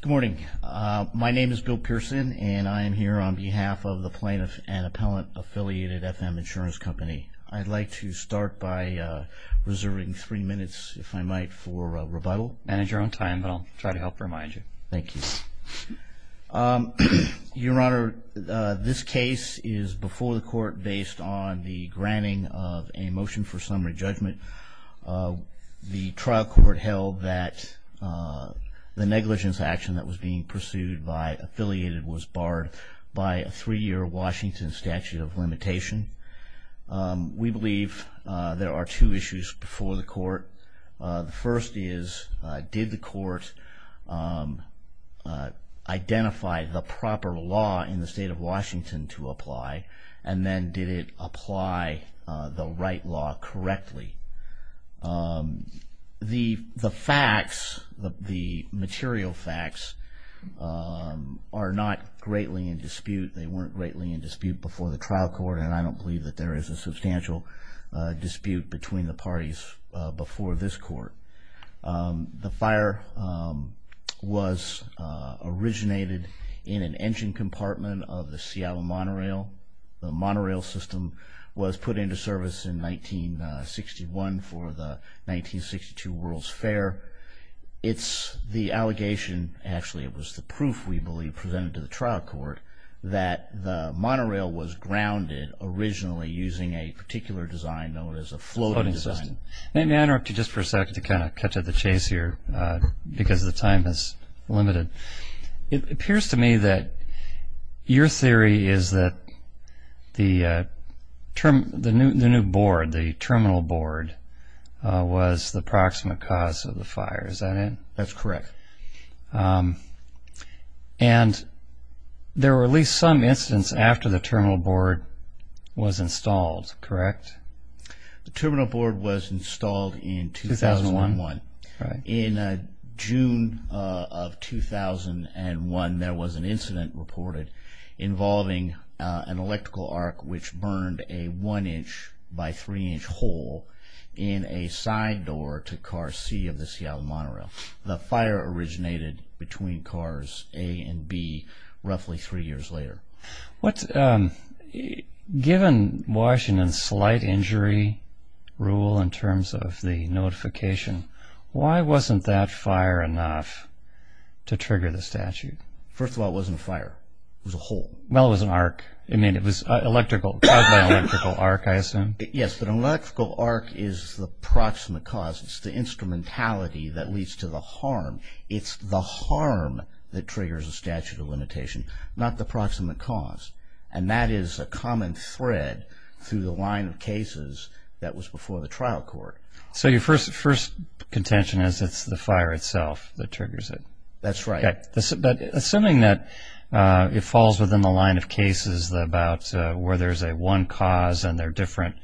Good morning, my name is Bill Pearson and I am here on behalf of the plaintiff and appellant affiliated FM Insurance Company. I'd like to start by reserving three minutes if I might for rebuttal. Manage your own time, I'll try to help remind you. Thank you. Your Honor, this case is before the court based on the negligence action that was being pursued by Affiliated was barred by a three-year Washington statute of limitation. We believe there are two issues before the court. The first is did the court identify the proper law in the state of Washington to apply and then did it apply the right law correctly? The facts, the material facts, are not greatly in dispute. They weren't greatly in dispute before the trial court and I don't believe that there is a substantial dispute between the parties before this court. The fire was originated in an engine compartment of the Seattle monorail. The monorail system was put into service in 1961 for the 1962 World's Fair. It's the allegation, actually it was the proof we believe presented to the trial court, that the monorail was grounded originally using a particular design known as a floating system. May I interrupt you just for a second to kind of catch up the chase here because the time is limited. It appears to me that your theory is that the new board, the terminal board, was the proximate cause of the fire. Is that it? That's correct. And there were at least some incidents after the terminal board was installed, correct? The terminal board was installed in 2001. In June of 2001 there was an incident reported involving an electrical arc which burned a one inch by three inch hole in a side door to car C of the Seattle monorail. The given Washington's slight injury rule in terms of the notification, why wasn't that fire enough to trigger the statute? First of all, it wasn't a fire. It was a hole. Well, it was an arc. I mean, it was an electrical arc, I assume. Yes, but an electrical arc is the proximate cause. It's the instrumentality that leads to the harm. It's the harm that triggers a statute of limitation, not the proximate cause. And that is a common thread through the line of cases that was before the trial court. So your first contention is it's the fire itself that triggers it. That's right. But assuming that it falls within the line of cases about where there's a one cause and there are different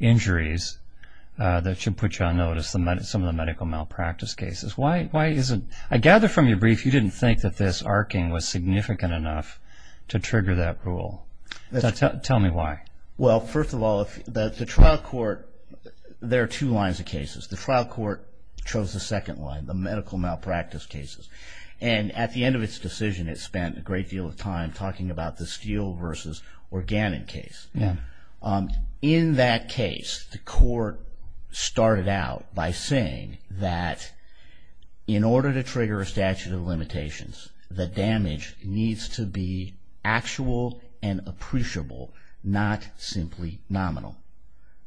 injuries that should put you on notice, some of the medical malpractice cases, why isn't... I gather from your brief you didn't think that this arcing was significant enough to trigger that rule. Tell me why. Well, first of all, the trial court, there are two lines of cases. The trial court chose the second one, the medical malpractice cases. And at the end of its decision, it spent a great deal of time talking about the steel versus organic case. In that case, the court started out by saying that in order to trigger a statute of limitations, the damage needs to be actual and appreciable, not simply nominal.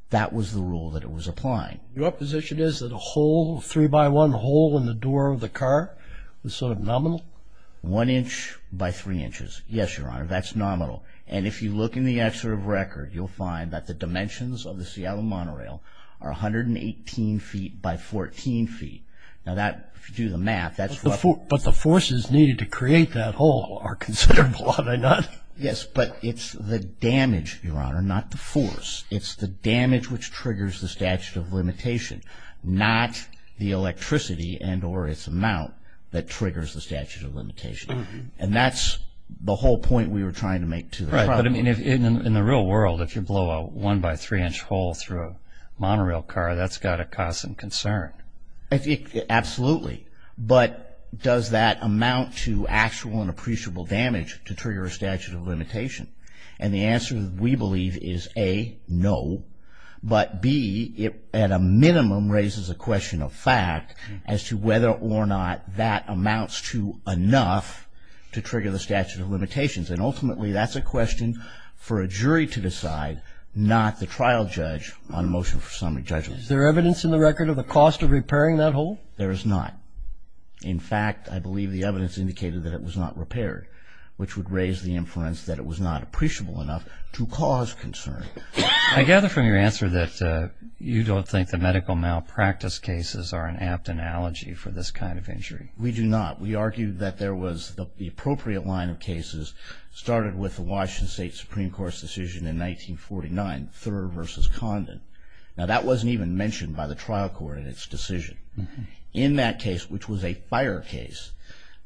That was the rule that it was applying. Your position is that a hole, a three-by-one hole in the door of the car was sort of nominal? One inch by three inches. Yes, Your Honor, that's nominal. And if you look in the excerpt of record, you'll find that the dimensions of the Seattle monorail are 118 feet by 14 feet. Now that, if you do the math, that's... But the forces needed to create that hole are considerable, are they not? Yes, but it's the damage, Your Honor, not the force. It's the damage which triggers the statute of limitation, not the electricity and or its amount that triggers the statute of limitation. And that's the whole point we were trying to make to the trial court. Right, but I mean, in the real world, if you blow a one-by-three-inch hole through a monorail car, that's got to cause some concern. Absolutely, but does that amount to actual and appreciable damage to trigger a statute of limitation? And the answer, we believe, is A, no, but B, it at a minimum raises a question of fact as to whether or not that amounts to enough to trigger the jury to decide, not the trial judge, on a motion for summary judgment. Is there evidence in the record of the cost of repairing that hole? There is not. In fact, I believe the evidence indicated that it was not repaired, which would raise the inference that it was not appreciable enough to cause concern. I gather from your answer that you don't think the medical malpractice cases are an apt analogy for this kind of injury. We do not. We argue that there was the appropriate line of cases started with the Washington State Supreme Court's decision in 1949, Thurr v. Condon. Now, that wasn't even mentioned by the trial court in its decision. In that case, which was a fire case,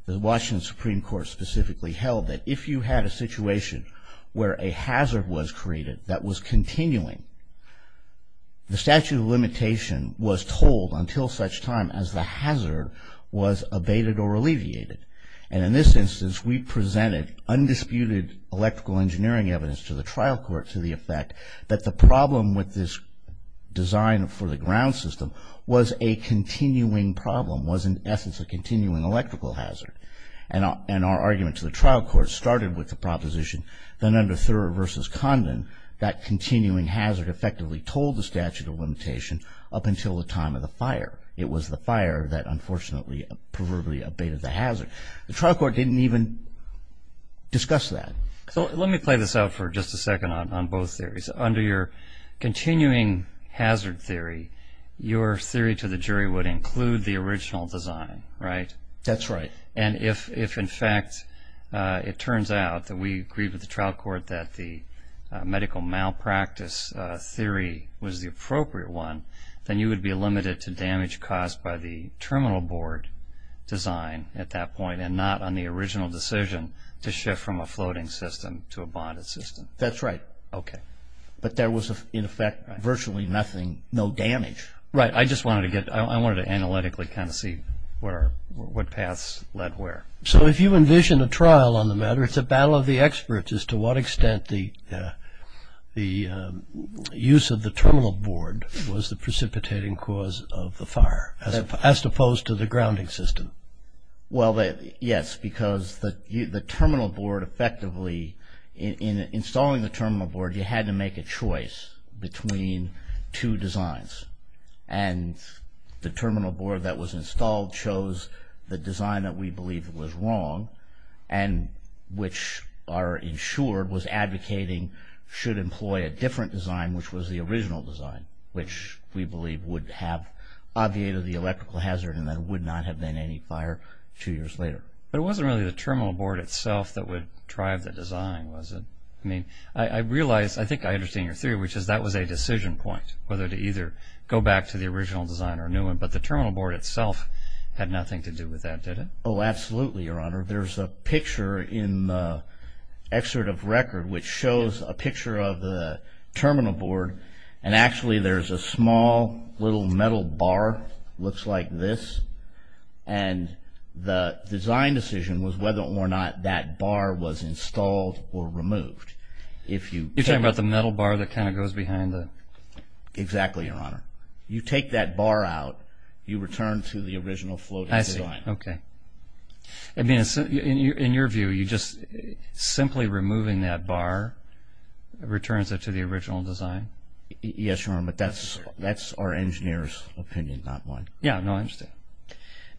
the Washington Supreme Court specifically held that if you had a situation where a hazard was created that was continuing, the statute of limitation was told until such time as the hazard was abated or alleviated. In this instance, we presented undisputed electrical engineering evidence to the trial court to the effect that the problem with this design for the ground system was a continuing problem, was in essence a continuing electrical hazard. Our argument to the trial court started with the proposition that under Thurr v. Condon, that continuing hazard effectively told the statute of limitation up until the time of the fire. It was the fire that unfortunately proverbially abated the hazard. The trial court didn't even discuss that. So, let me play this out for just a second on both theories. Under your continuing hazard theory, your theory to the jury would include the original design, right? That's right. And if in fact it turns out that we agreed with the trial court that the medical malpractice theory was the appropriate one, then you would be limited to damage caused by the terminal board design at that point and not on the original decision to shift from a floating system to a bonded system. That's right. Okay. But there was in effect virtually nothing, no damage. Right. I just wanted to get, I wanted to analytically kind of see what paths led where. So, if you envision a trial on the matter, it's a battle of the experts as to what extent the use of the terminal board was the precipitating cause of the fire, as opposed to the grounding system. Well, yes, because the terminal board effectively, in installing the terminal board, you had to make a choice between two designs. And the terminal board that was installed chose the design that we believed was wrong and which our insured was advocating should employ a which we believe would have obviated the electrical hazard and there would not have been any fire two years later. But it wasn't really the terminal board itself that would drive the design, was it? I mean, I realize, I think I understand your theory, which is that was a decision point, whether to either go back to the original design or a new one. But the terminal board itself had nothing to do with that, did it? Oh, absolutely, Your Honor. There's a picture in the excerpt of record which shows a picture of the terminal board and actually there's a small little metal bar, looks like this. And the design decision was whether or not that bar was installed or removed. You're talking about the metal bar that kind of goes behind the... Exactly, Your Honor. You take that bar out, you return to the original floating design. I see, okay. I mean, in your view, simply removing that bar returns it to the original design? Yes, Your Honor, but that's our engineer's opinion, not mine. Yeah, no, I understand.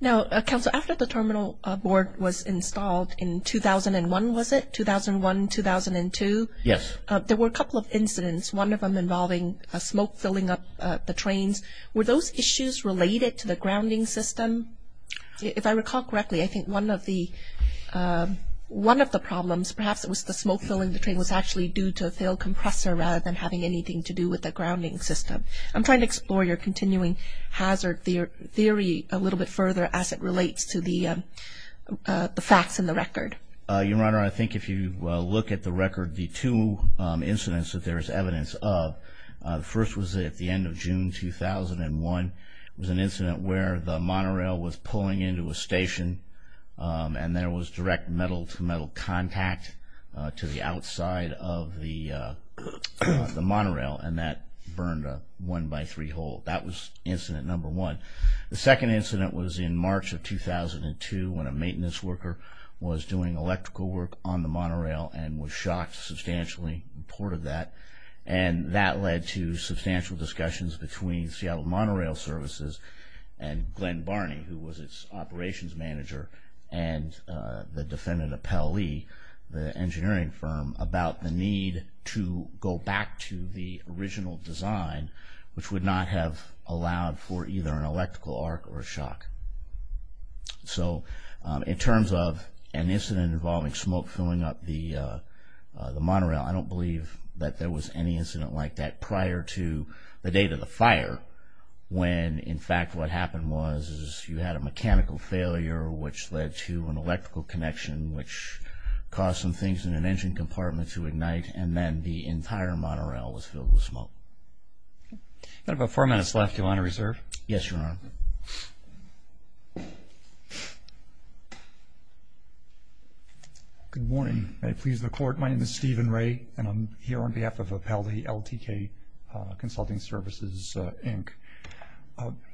Now, Counselor, after the terminal board was installed in 2001, was it? 2001, 2002? Yes. There were a couple of incidents, one of them involving smoke filling up the trains. Were those issues related to the grounding system? If I recall correctly, I think one of the problems, perhaps it was the smoke filling was actually due to a failed compressor rather than having anything to do with the grounding system. I'm trying to explore your continuing hazard theory a little bit further as it relates to the facts in the record. Your Honor, I think if you look at the record, the two incidents that there is evidence of, the first was at the end of June 2001. It was an incident where the monorail was pulling into a station and there was direct metal-to-metal contact to the outside of the monorail, and that burned a one-by-three hole. That was incident number one. The second incident was in March of 2002 when a maintenance worker was doing electrical work on the monorail and was shocked substantially, reported that, and that led to substantial discussions between Seattle Monorail Services and Glenn Barney, who was its operations manager, and the defendant Appel Lee, the engineering firm, about the need to go back to the original design, which would not have allowed for either an electrical arc or a shock. So in terms of an incident involving smoke filling up the monorail, I don't believe that there was any incident like that prior to the date of the fire when, in fact, what happened was you had a mechanical failure which led to an electrical connection, which caused some things in an engine compartment to ignite, and then the entire monorail was filled with smoke. I've got about four minutes left. Do you want to reserve? Yes, Your Honor. Good morning. May it please the Court. My name is Stephen Ray, and I'm here on behalf of Appel Lee, LTK Consulting Services, Inc.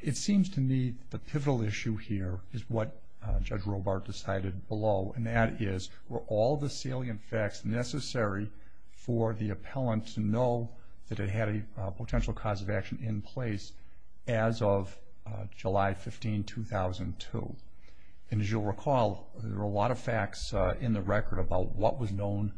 It seems to me the pivotal issue here is what Judge Robart decided below, and that is, were all the salient facts necessary for the appellant to know that it had a potential cause of action in place as of July 15, 2002? And as you'll recall, there are a lot of facts in the record about what was known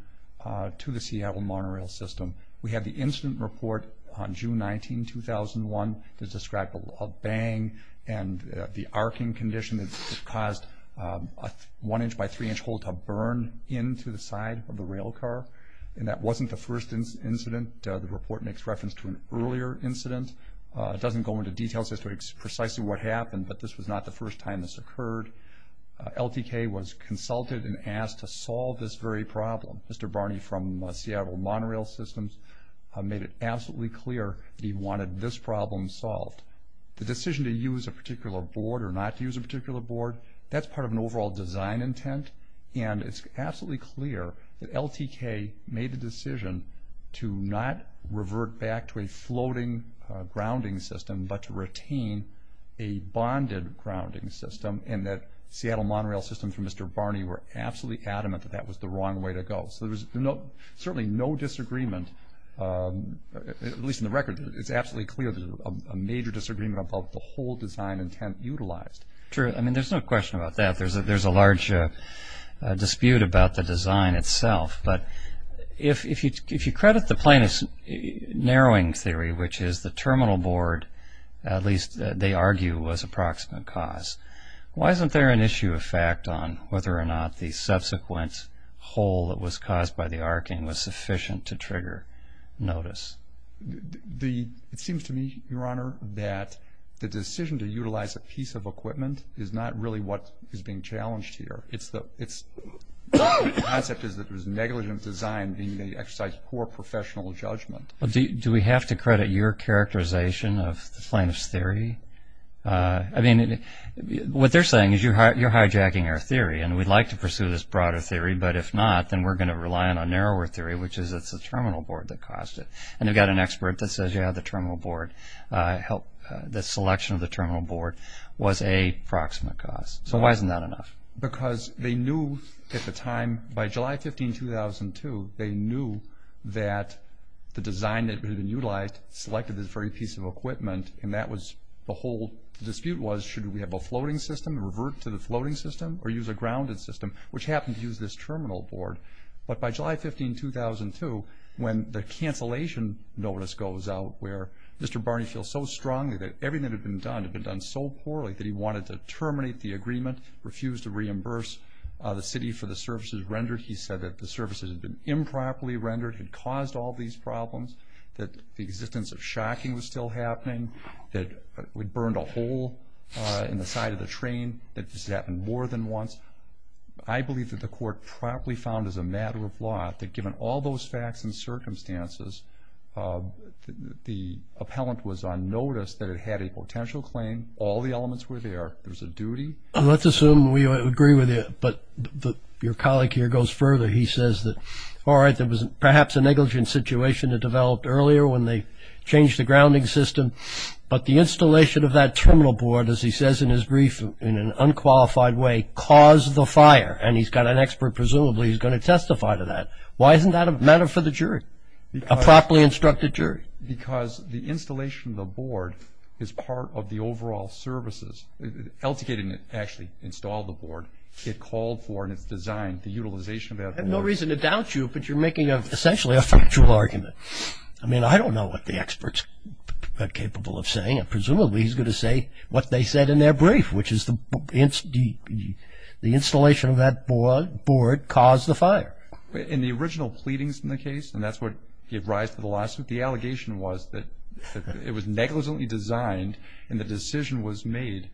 to the Seattle monorail system. We have the incident report on June 19, 2001 that described a bang and the arcing condition that caused a one-inch by three-inch hole to burn into the side of the rail car, and that wasn't the first incident. The report makes reference to an earlier incident. It doesn't go into details as to precisely what happened, but this was not the first time this occurred. LTK was consulted and asked to solve this very problem. Mr. Barney from Seattle Monorail Systems made it absolutely clear that he wanted this problem solved. The decision to use a particular board or not to use a particular board, that's part of an overall design intent, and it's absolutely clear that LTK made the decision to not revert back to a floating grounding system, but to retain a bonded grounding system, and that Seattle Monorail Systems and Mr. Barney were absolutely adamant that that was the wrong way to go. So there was certainly no disagreement, at least in the record. It's absolutely clear there's a major disagreement about the whole design intent utilized. True. I mean, there's no question about that. There's a large dispute about the design itself, but if you credit the planar narrowing theory, which is the terminal board, at least they argue, was a proximate cause, why isn't there an issue of fact on whether or not the subsequent hole that was caused by the arcing was sufficient to trigger notice? It seems to me, Your Honor, that the decision to utilize a piece of equipment is not really what is being challenged here. Its concept is that there's negligent design being exercised for professional judgment. Do we have to credit your characterization of the planar theory? I mean, what they're saying is you're hijacking our theory and we'd like to pursue this broader theory, but if not, then we're going to rely on a narrower theory, which is it's the terminal board that caused it. And they've got an expert that says, yeah, the terminal board, the selection of the terminal board was a proximate cause. So why isn't that enough? Because they knew at the time, by July 15, 2002, they knew that the design that had been utilized selected this very piece of equipment and that was the whole dispute was, should we have a floating system, revert to the floating system, or use a grounded system, which happened to use this terminal board. But by July 15, 2002, when the cancellation notice goes out where Mr. Barney feels so strongly that everything that had been done, had been done so poorly that he wanted to terminate the agreement, refused to reimburse the city for the services rendered. He said that the services had been improperly rendered, had caused all these problems, that the existence of shocking was still happening, that we burned a hole in the side of the train, that this happened more than once. I believe that the court promptly found as a matter of law, that given all those facts and circumstances, the appellant was on notice that it had a potential claim. All the elements were there. There was a duty. Let's assume we agree with you, but your colleague here goes further. He says that, all right, there was perhaps a negligent situation that developed earlier when they changed the grounding system, but the installation of that terminal board, as he says in his brief, in an unqualified way, caused the fire. And he's got an expert, presumably he's going to testify to that. Why isn't that a matter for the jury? A properly instructed jury? Because the installation of the board is part of the overall services. LTK didn't actually install the board. It called for, and it's designed, the utilization of that board. I have no reason to doubt you, but you're making essentially a factual argument. I mean, I don't know what the expert's capable of saying. Presumably he's going to say what they said in their brief, which is the installation of that board caused the fire. In the original pleadings in the case, and that's what gave rise to the lawsuit, the allegation was that it was negligently designed and the decision was made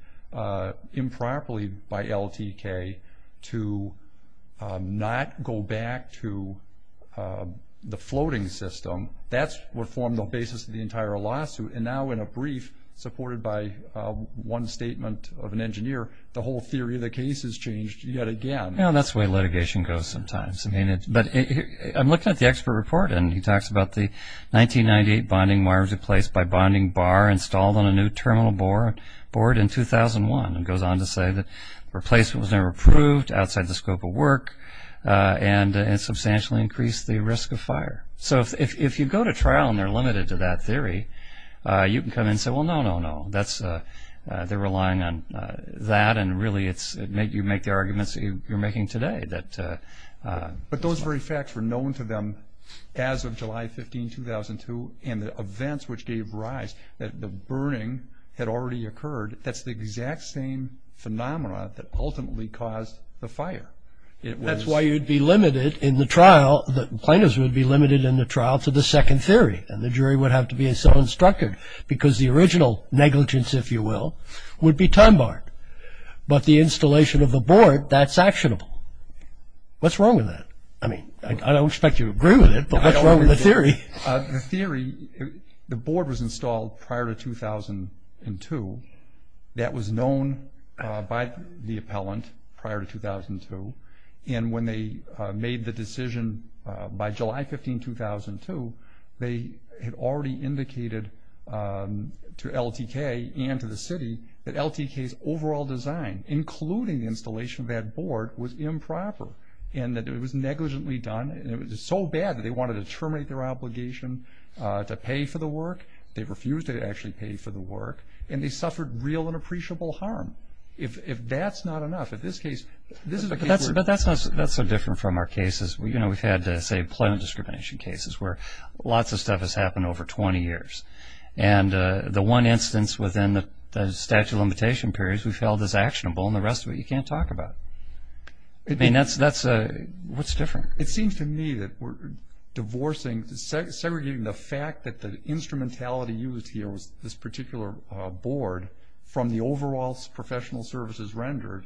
improperly by LTK to not go back to the floating system. That's what formed the basis of the entire lawsuit. And now in a brief, supported by one statement of an engineer, the whole theory of the case has changed yet again. Well, that's the way litigation goes sometimes. But I'm looking at the expert report and he talks about the 1998 bonding wires replaced by bonding bar installed on a new terminal board in 2001. And goes on to say that the replacement was never approved outside the scope of work and substantially increased the risk of fire. So if you go to trial and they're limited to that theory, you can come in and say, well, no, no, no. They're relying on that. And really, you make the arguments that you're making today. But those very facts were known to them as of July 15, 2002. And the events which gave rise, the burning had already occurred. That's the exact same phenomena that ultimately caused the fire. That's why you'd be limited in the trial. The plaintiffs would be limited in the trial to the second theory. And the jury would have to be so instructed because the original negligence, if you will, would be time barred. But the installation of the board, that's actionable. What's wrong with that? I mean, I don't expect you to agree with it, but what's wrong with the theory? The theory, the board was installed prior to 2002. That was known by the appellant prior to 2002. And when they made the decision by July 15, 2002, they had already indicated to LTK and to the city that LTK's overall design, including the installation of that board, was improper. And that it was negligently done. And it was so bad that they wanted to terminate their obligation to pay for the work. They refused to actually pay for the work. And they suffered real and appreciable harm. If that's not enough, in this case, this is a case where- But that's not so different from our cases. You know, we've had, say, employment discrimination cases where lots of stuff has happened over 20 years. And the one instance within the statute of limitation periods we've held as actionable and the rest of it you can't talk about. I mean, that's, what's different? It seems to me that we're divorcing, segregating the fact that the instrumentality this particular board from the overall professional services rendered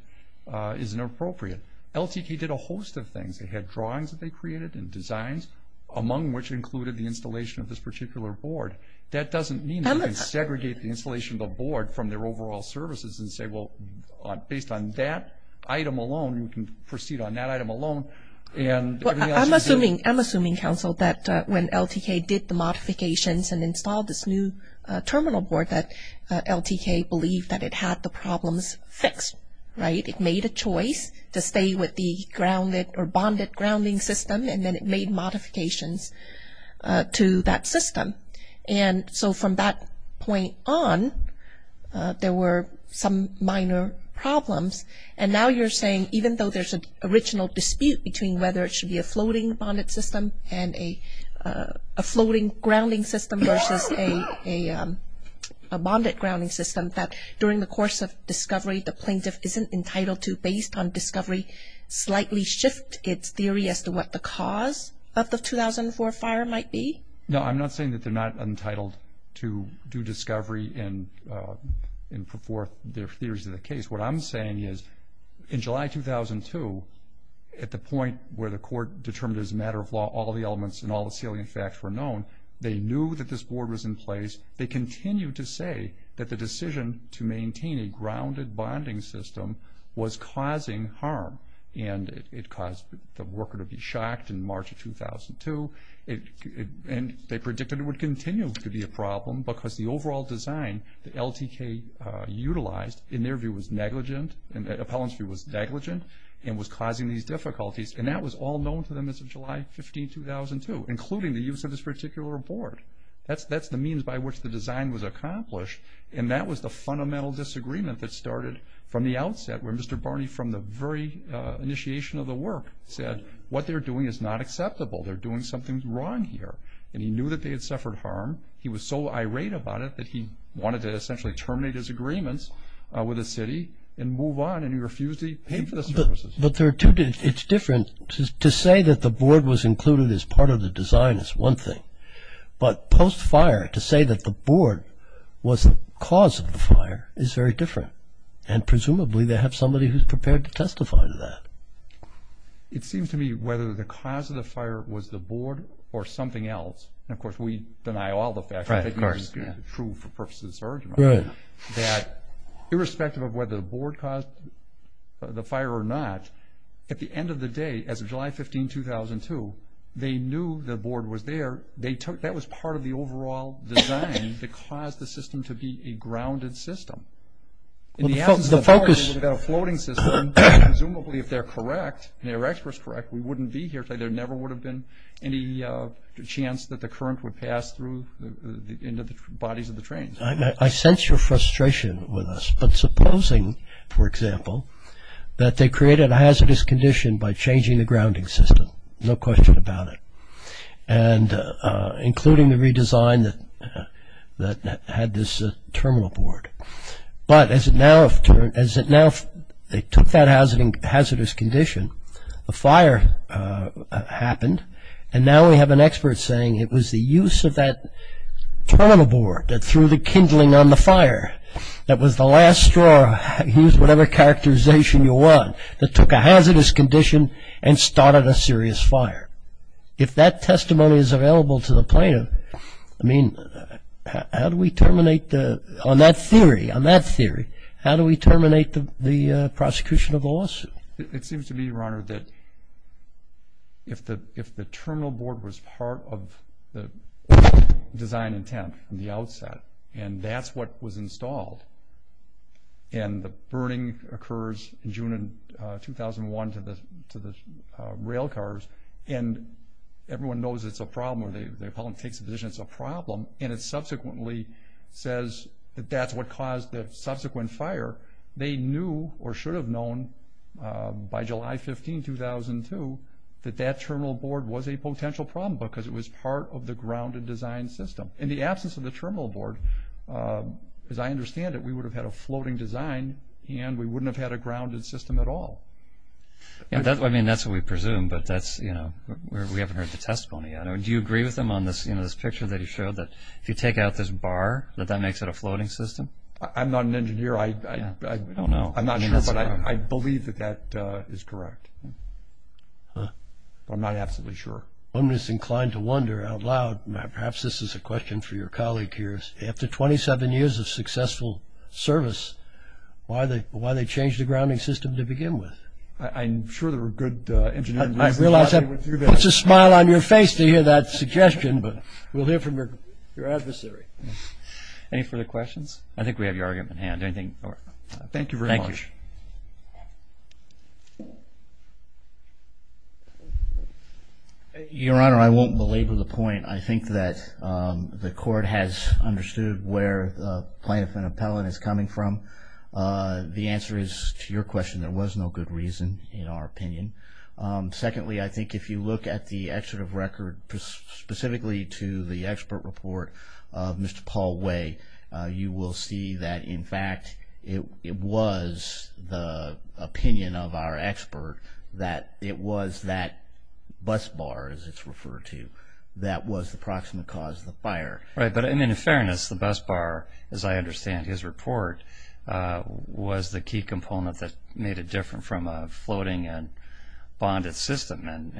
is inappropriate. LTK did a host of things. They had drawings that they created and designs, among which included the installation of this particular board. That doesn't mean that you can segregate the installation of the board from their overall services and say, well, based on that item alone, you can proceed on that item alone. And everything else you see- I'm assuming, Council, that when LTK did the modifications and installed this new terminal board that LTK believed that it had the problems fixed, right? It made a choice to stay with the grounded or bonded grounding system and then it made modifications to that system. And so from that point on, there were some minor problems. And now you're saying, even though there's an original dispute between whether it should be a floating bonded system and a floating grounding system versus a bonded grounding system, that during the course of discovery, the plaintiff isn't entitled to, based on discovery, slightly shift its theory as to what the cause of the 2004 fire might be? No, I'm not saying that they're not entitled to do discovery and put forth their theories of the case. What I'm saying is, in July 2002, at the point where the court determined as a matter of law all the elements and all the salient facts were known, they knew that this board was in place. They continued to say that the decision to maintain a grounded bonding system was causing harm and it caused the worker to be shocked in March of 2002. And they predicted it would continue to be a problem because the overall design that LTK utilized, in their view, was negligent and the appellant's view was negligent and was causing these difficulties. And that was all known to them since July 15, 2002, including the use of this particular board. That's the means by which the design was accomplished and that was the fundamental disagreement that started from the outset where Mr. Barney, from the very initiation of the work, said what they're doing is not acceptable. They're doing something wrong here. And he knew that they had suffered harm. He was so irate about it that he wanted to essentially terminate his agreements with the city and move on and he refused to pay for the services. But there are two... It's different to say that the board was included as part of the design is one thing. But post-fire, to say that the board was the cause of the fire is very different. And presumably, they have somebody who's prepared to testify to that. It seems to me whether the cause of the fire was the board or something else. And of course, we deny all the facts. Right, of course. True for purposes of this argument. Right. That irrespective of whether the board caused the fire or not, at the end of the day, as of July 15, 2002, they knew the board was there. That was part of the overall design that caused the system to be a grounded system. In the absence of the fire, we would have got a floating system. Presumably, if they're correct, and they're experts correct, we wouldn't be here. There never would have been any chance that the current would pass through into the bodies of the trains. I sense your frustration with us. But supposing, for example, that they created a hazardous condition by changing the grounding system. No question about it. And including the redesign that had this terminal board. But as it now, they took that hazardous condition, the fire happened, and now we have an expert saying it was the use of that terminal board that threw the kindling on the fire that was the last straw, use whatever characterization you want, that took a hazardous condition and started a serious fire. If that testimony is available to the plaintiff, I mean, how do we terminate the, on that theory, on that theory, how do we terminate the prosecution of the lawsuit? It seems to me, Your Honor, that if the terminal board was part of the design intent from the outset, and that's what was installed, and the burning occurs in June of 2001 to the rail cars, and everyone knows it's a problem, or the appellant takes a decision it's a problem, and it subsequently says that that's what caused the subsequent fire, they knew or should have known by July 15, 2002, that that terminal board was a potential problem because it was part of the grounded design system. In the absence of the terminal board, as I understand it, we would have had a floating design and we wouldn't have had a grounded system at all. I mean, that's what we presume, but that's, you know, we haven't heard the testimony yet. Do you agree with him on this picture that he showed that if you take out this bar, that that makes it a floating system? I'm not an engineer. I don't know. I'm not sure, but I believe that that is correct. But I'm not absolutely sure. One is inclined to wonder out loud, perhaps this is a question for your colleague here, after 27 years of successful service, why they changed the grounding system to begin with. I'm sure there were good engineers. I realize that puts a smile on your face to hear that suggestion, but we'll hear from your adversary. Any further questions? I think we have your argument. Anything? Thank you very much. Your Honor, I won't belabor the point. I think that the court has understood where plaintiff and appellant is coming from. The answer is to your question, there was no good reason in our opinion. Secondly, I think if you look at the excerpt of record, specifically to the expert report of Mr. Paul Way, you will see that, in fact, it was the opinion of our expert that it was that bus bar, as it's referred to, that was the proximate cause of the fire. Right, but in fairness, the bus bar, as I understand his report, was the key component that made it different from a floating and bonded system.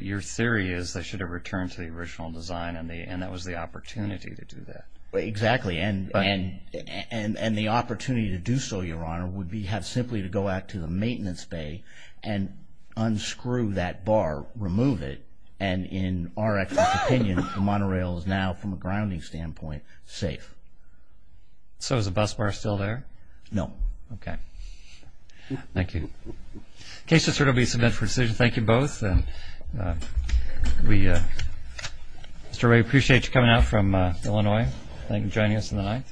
Your theory is they should have returned to the original design, and that was the opportunity to do that. Exactly, and the opportunity to do so, Your Honor, would be have simply to go out to the maintenance bay and unscrew that bar, remove it, and in our expert opinion, the monorail is now, from a grounding standpoint, safe. So is the bus bar still there? No. Okay. Thank you. In case there will be some interesting decisions, thank you both. Mr. Way, we appreciate you coming out from Illinois and joining us on the 9th.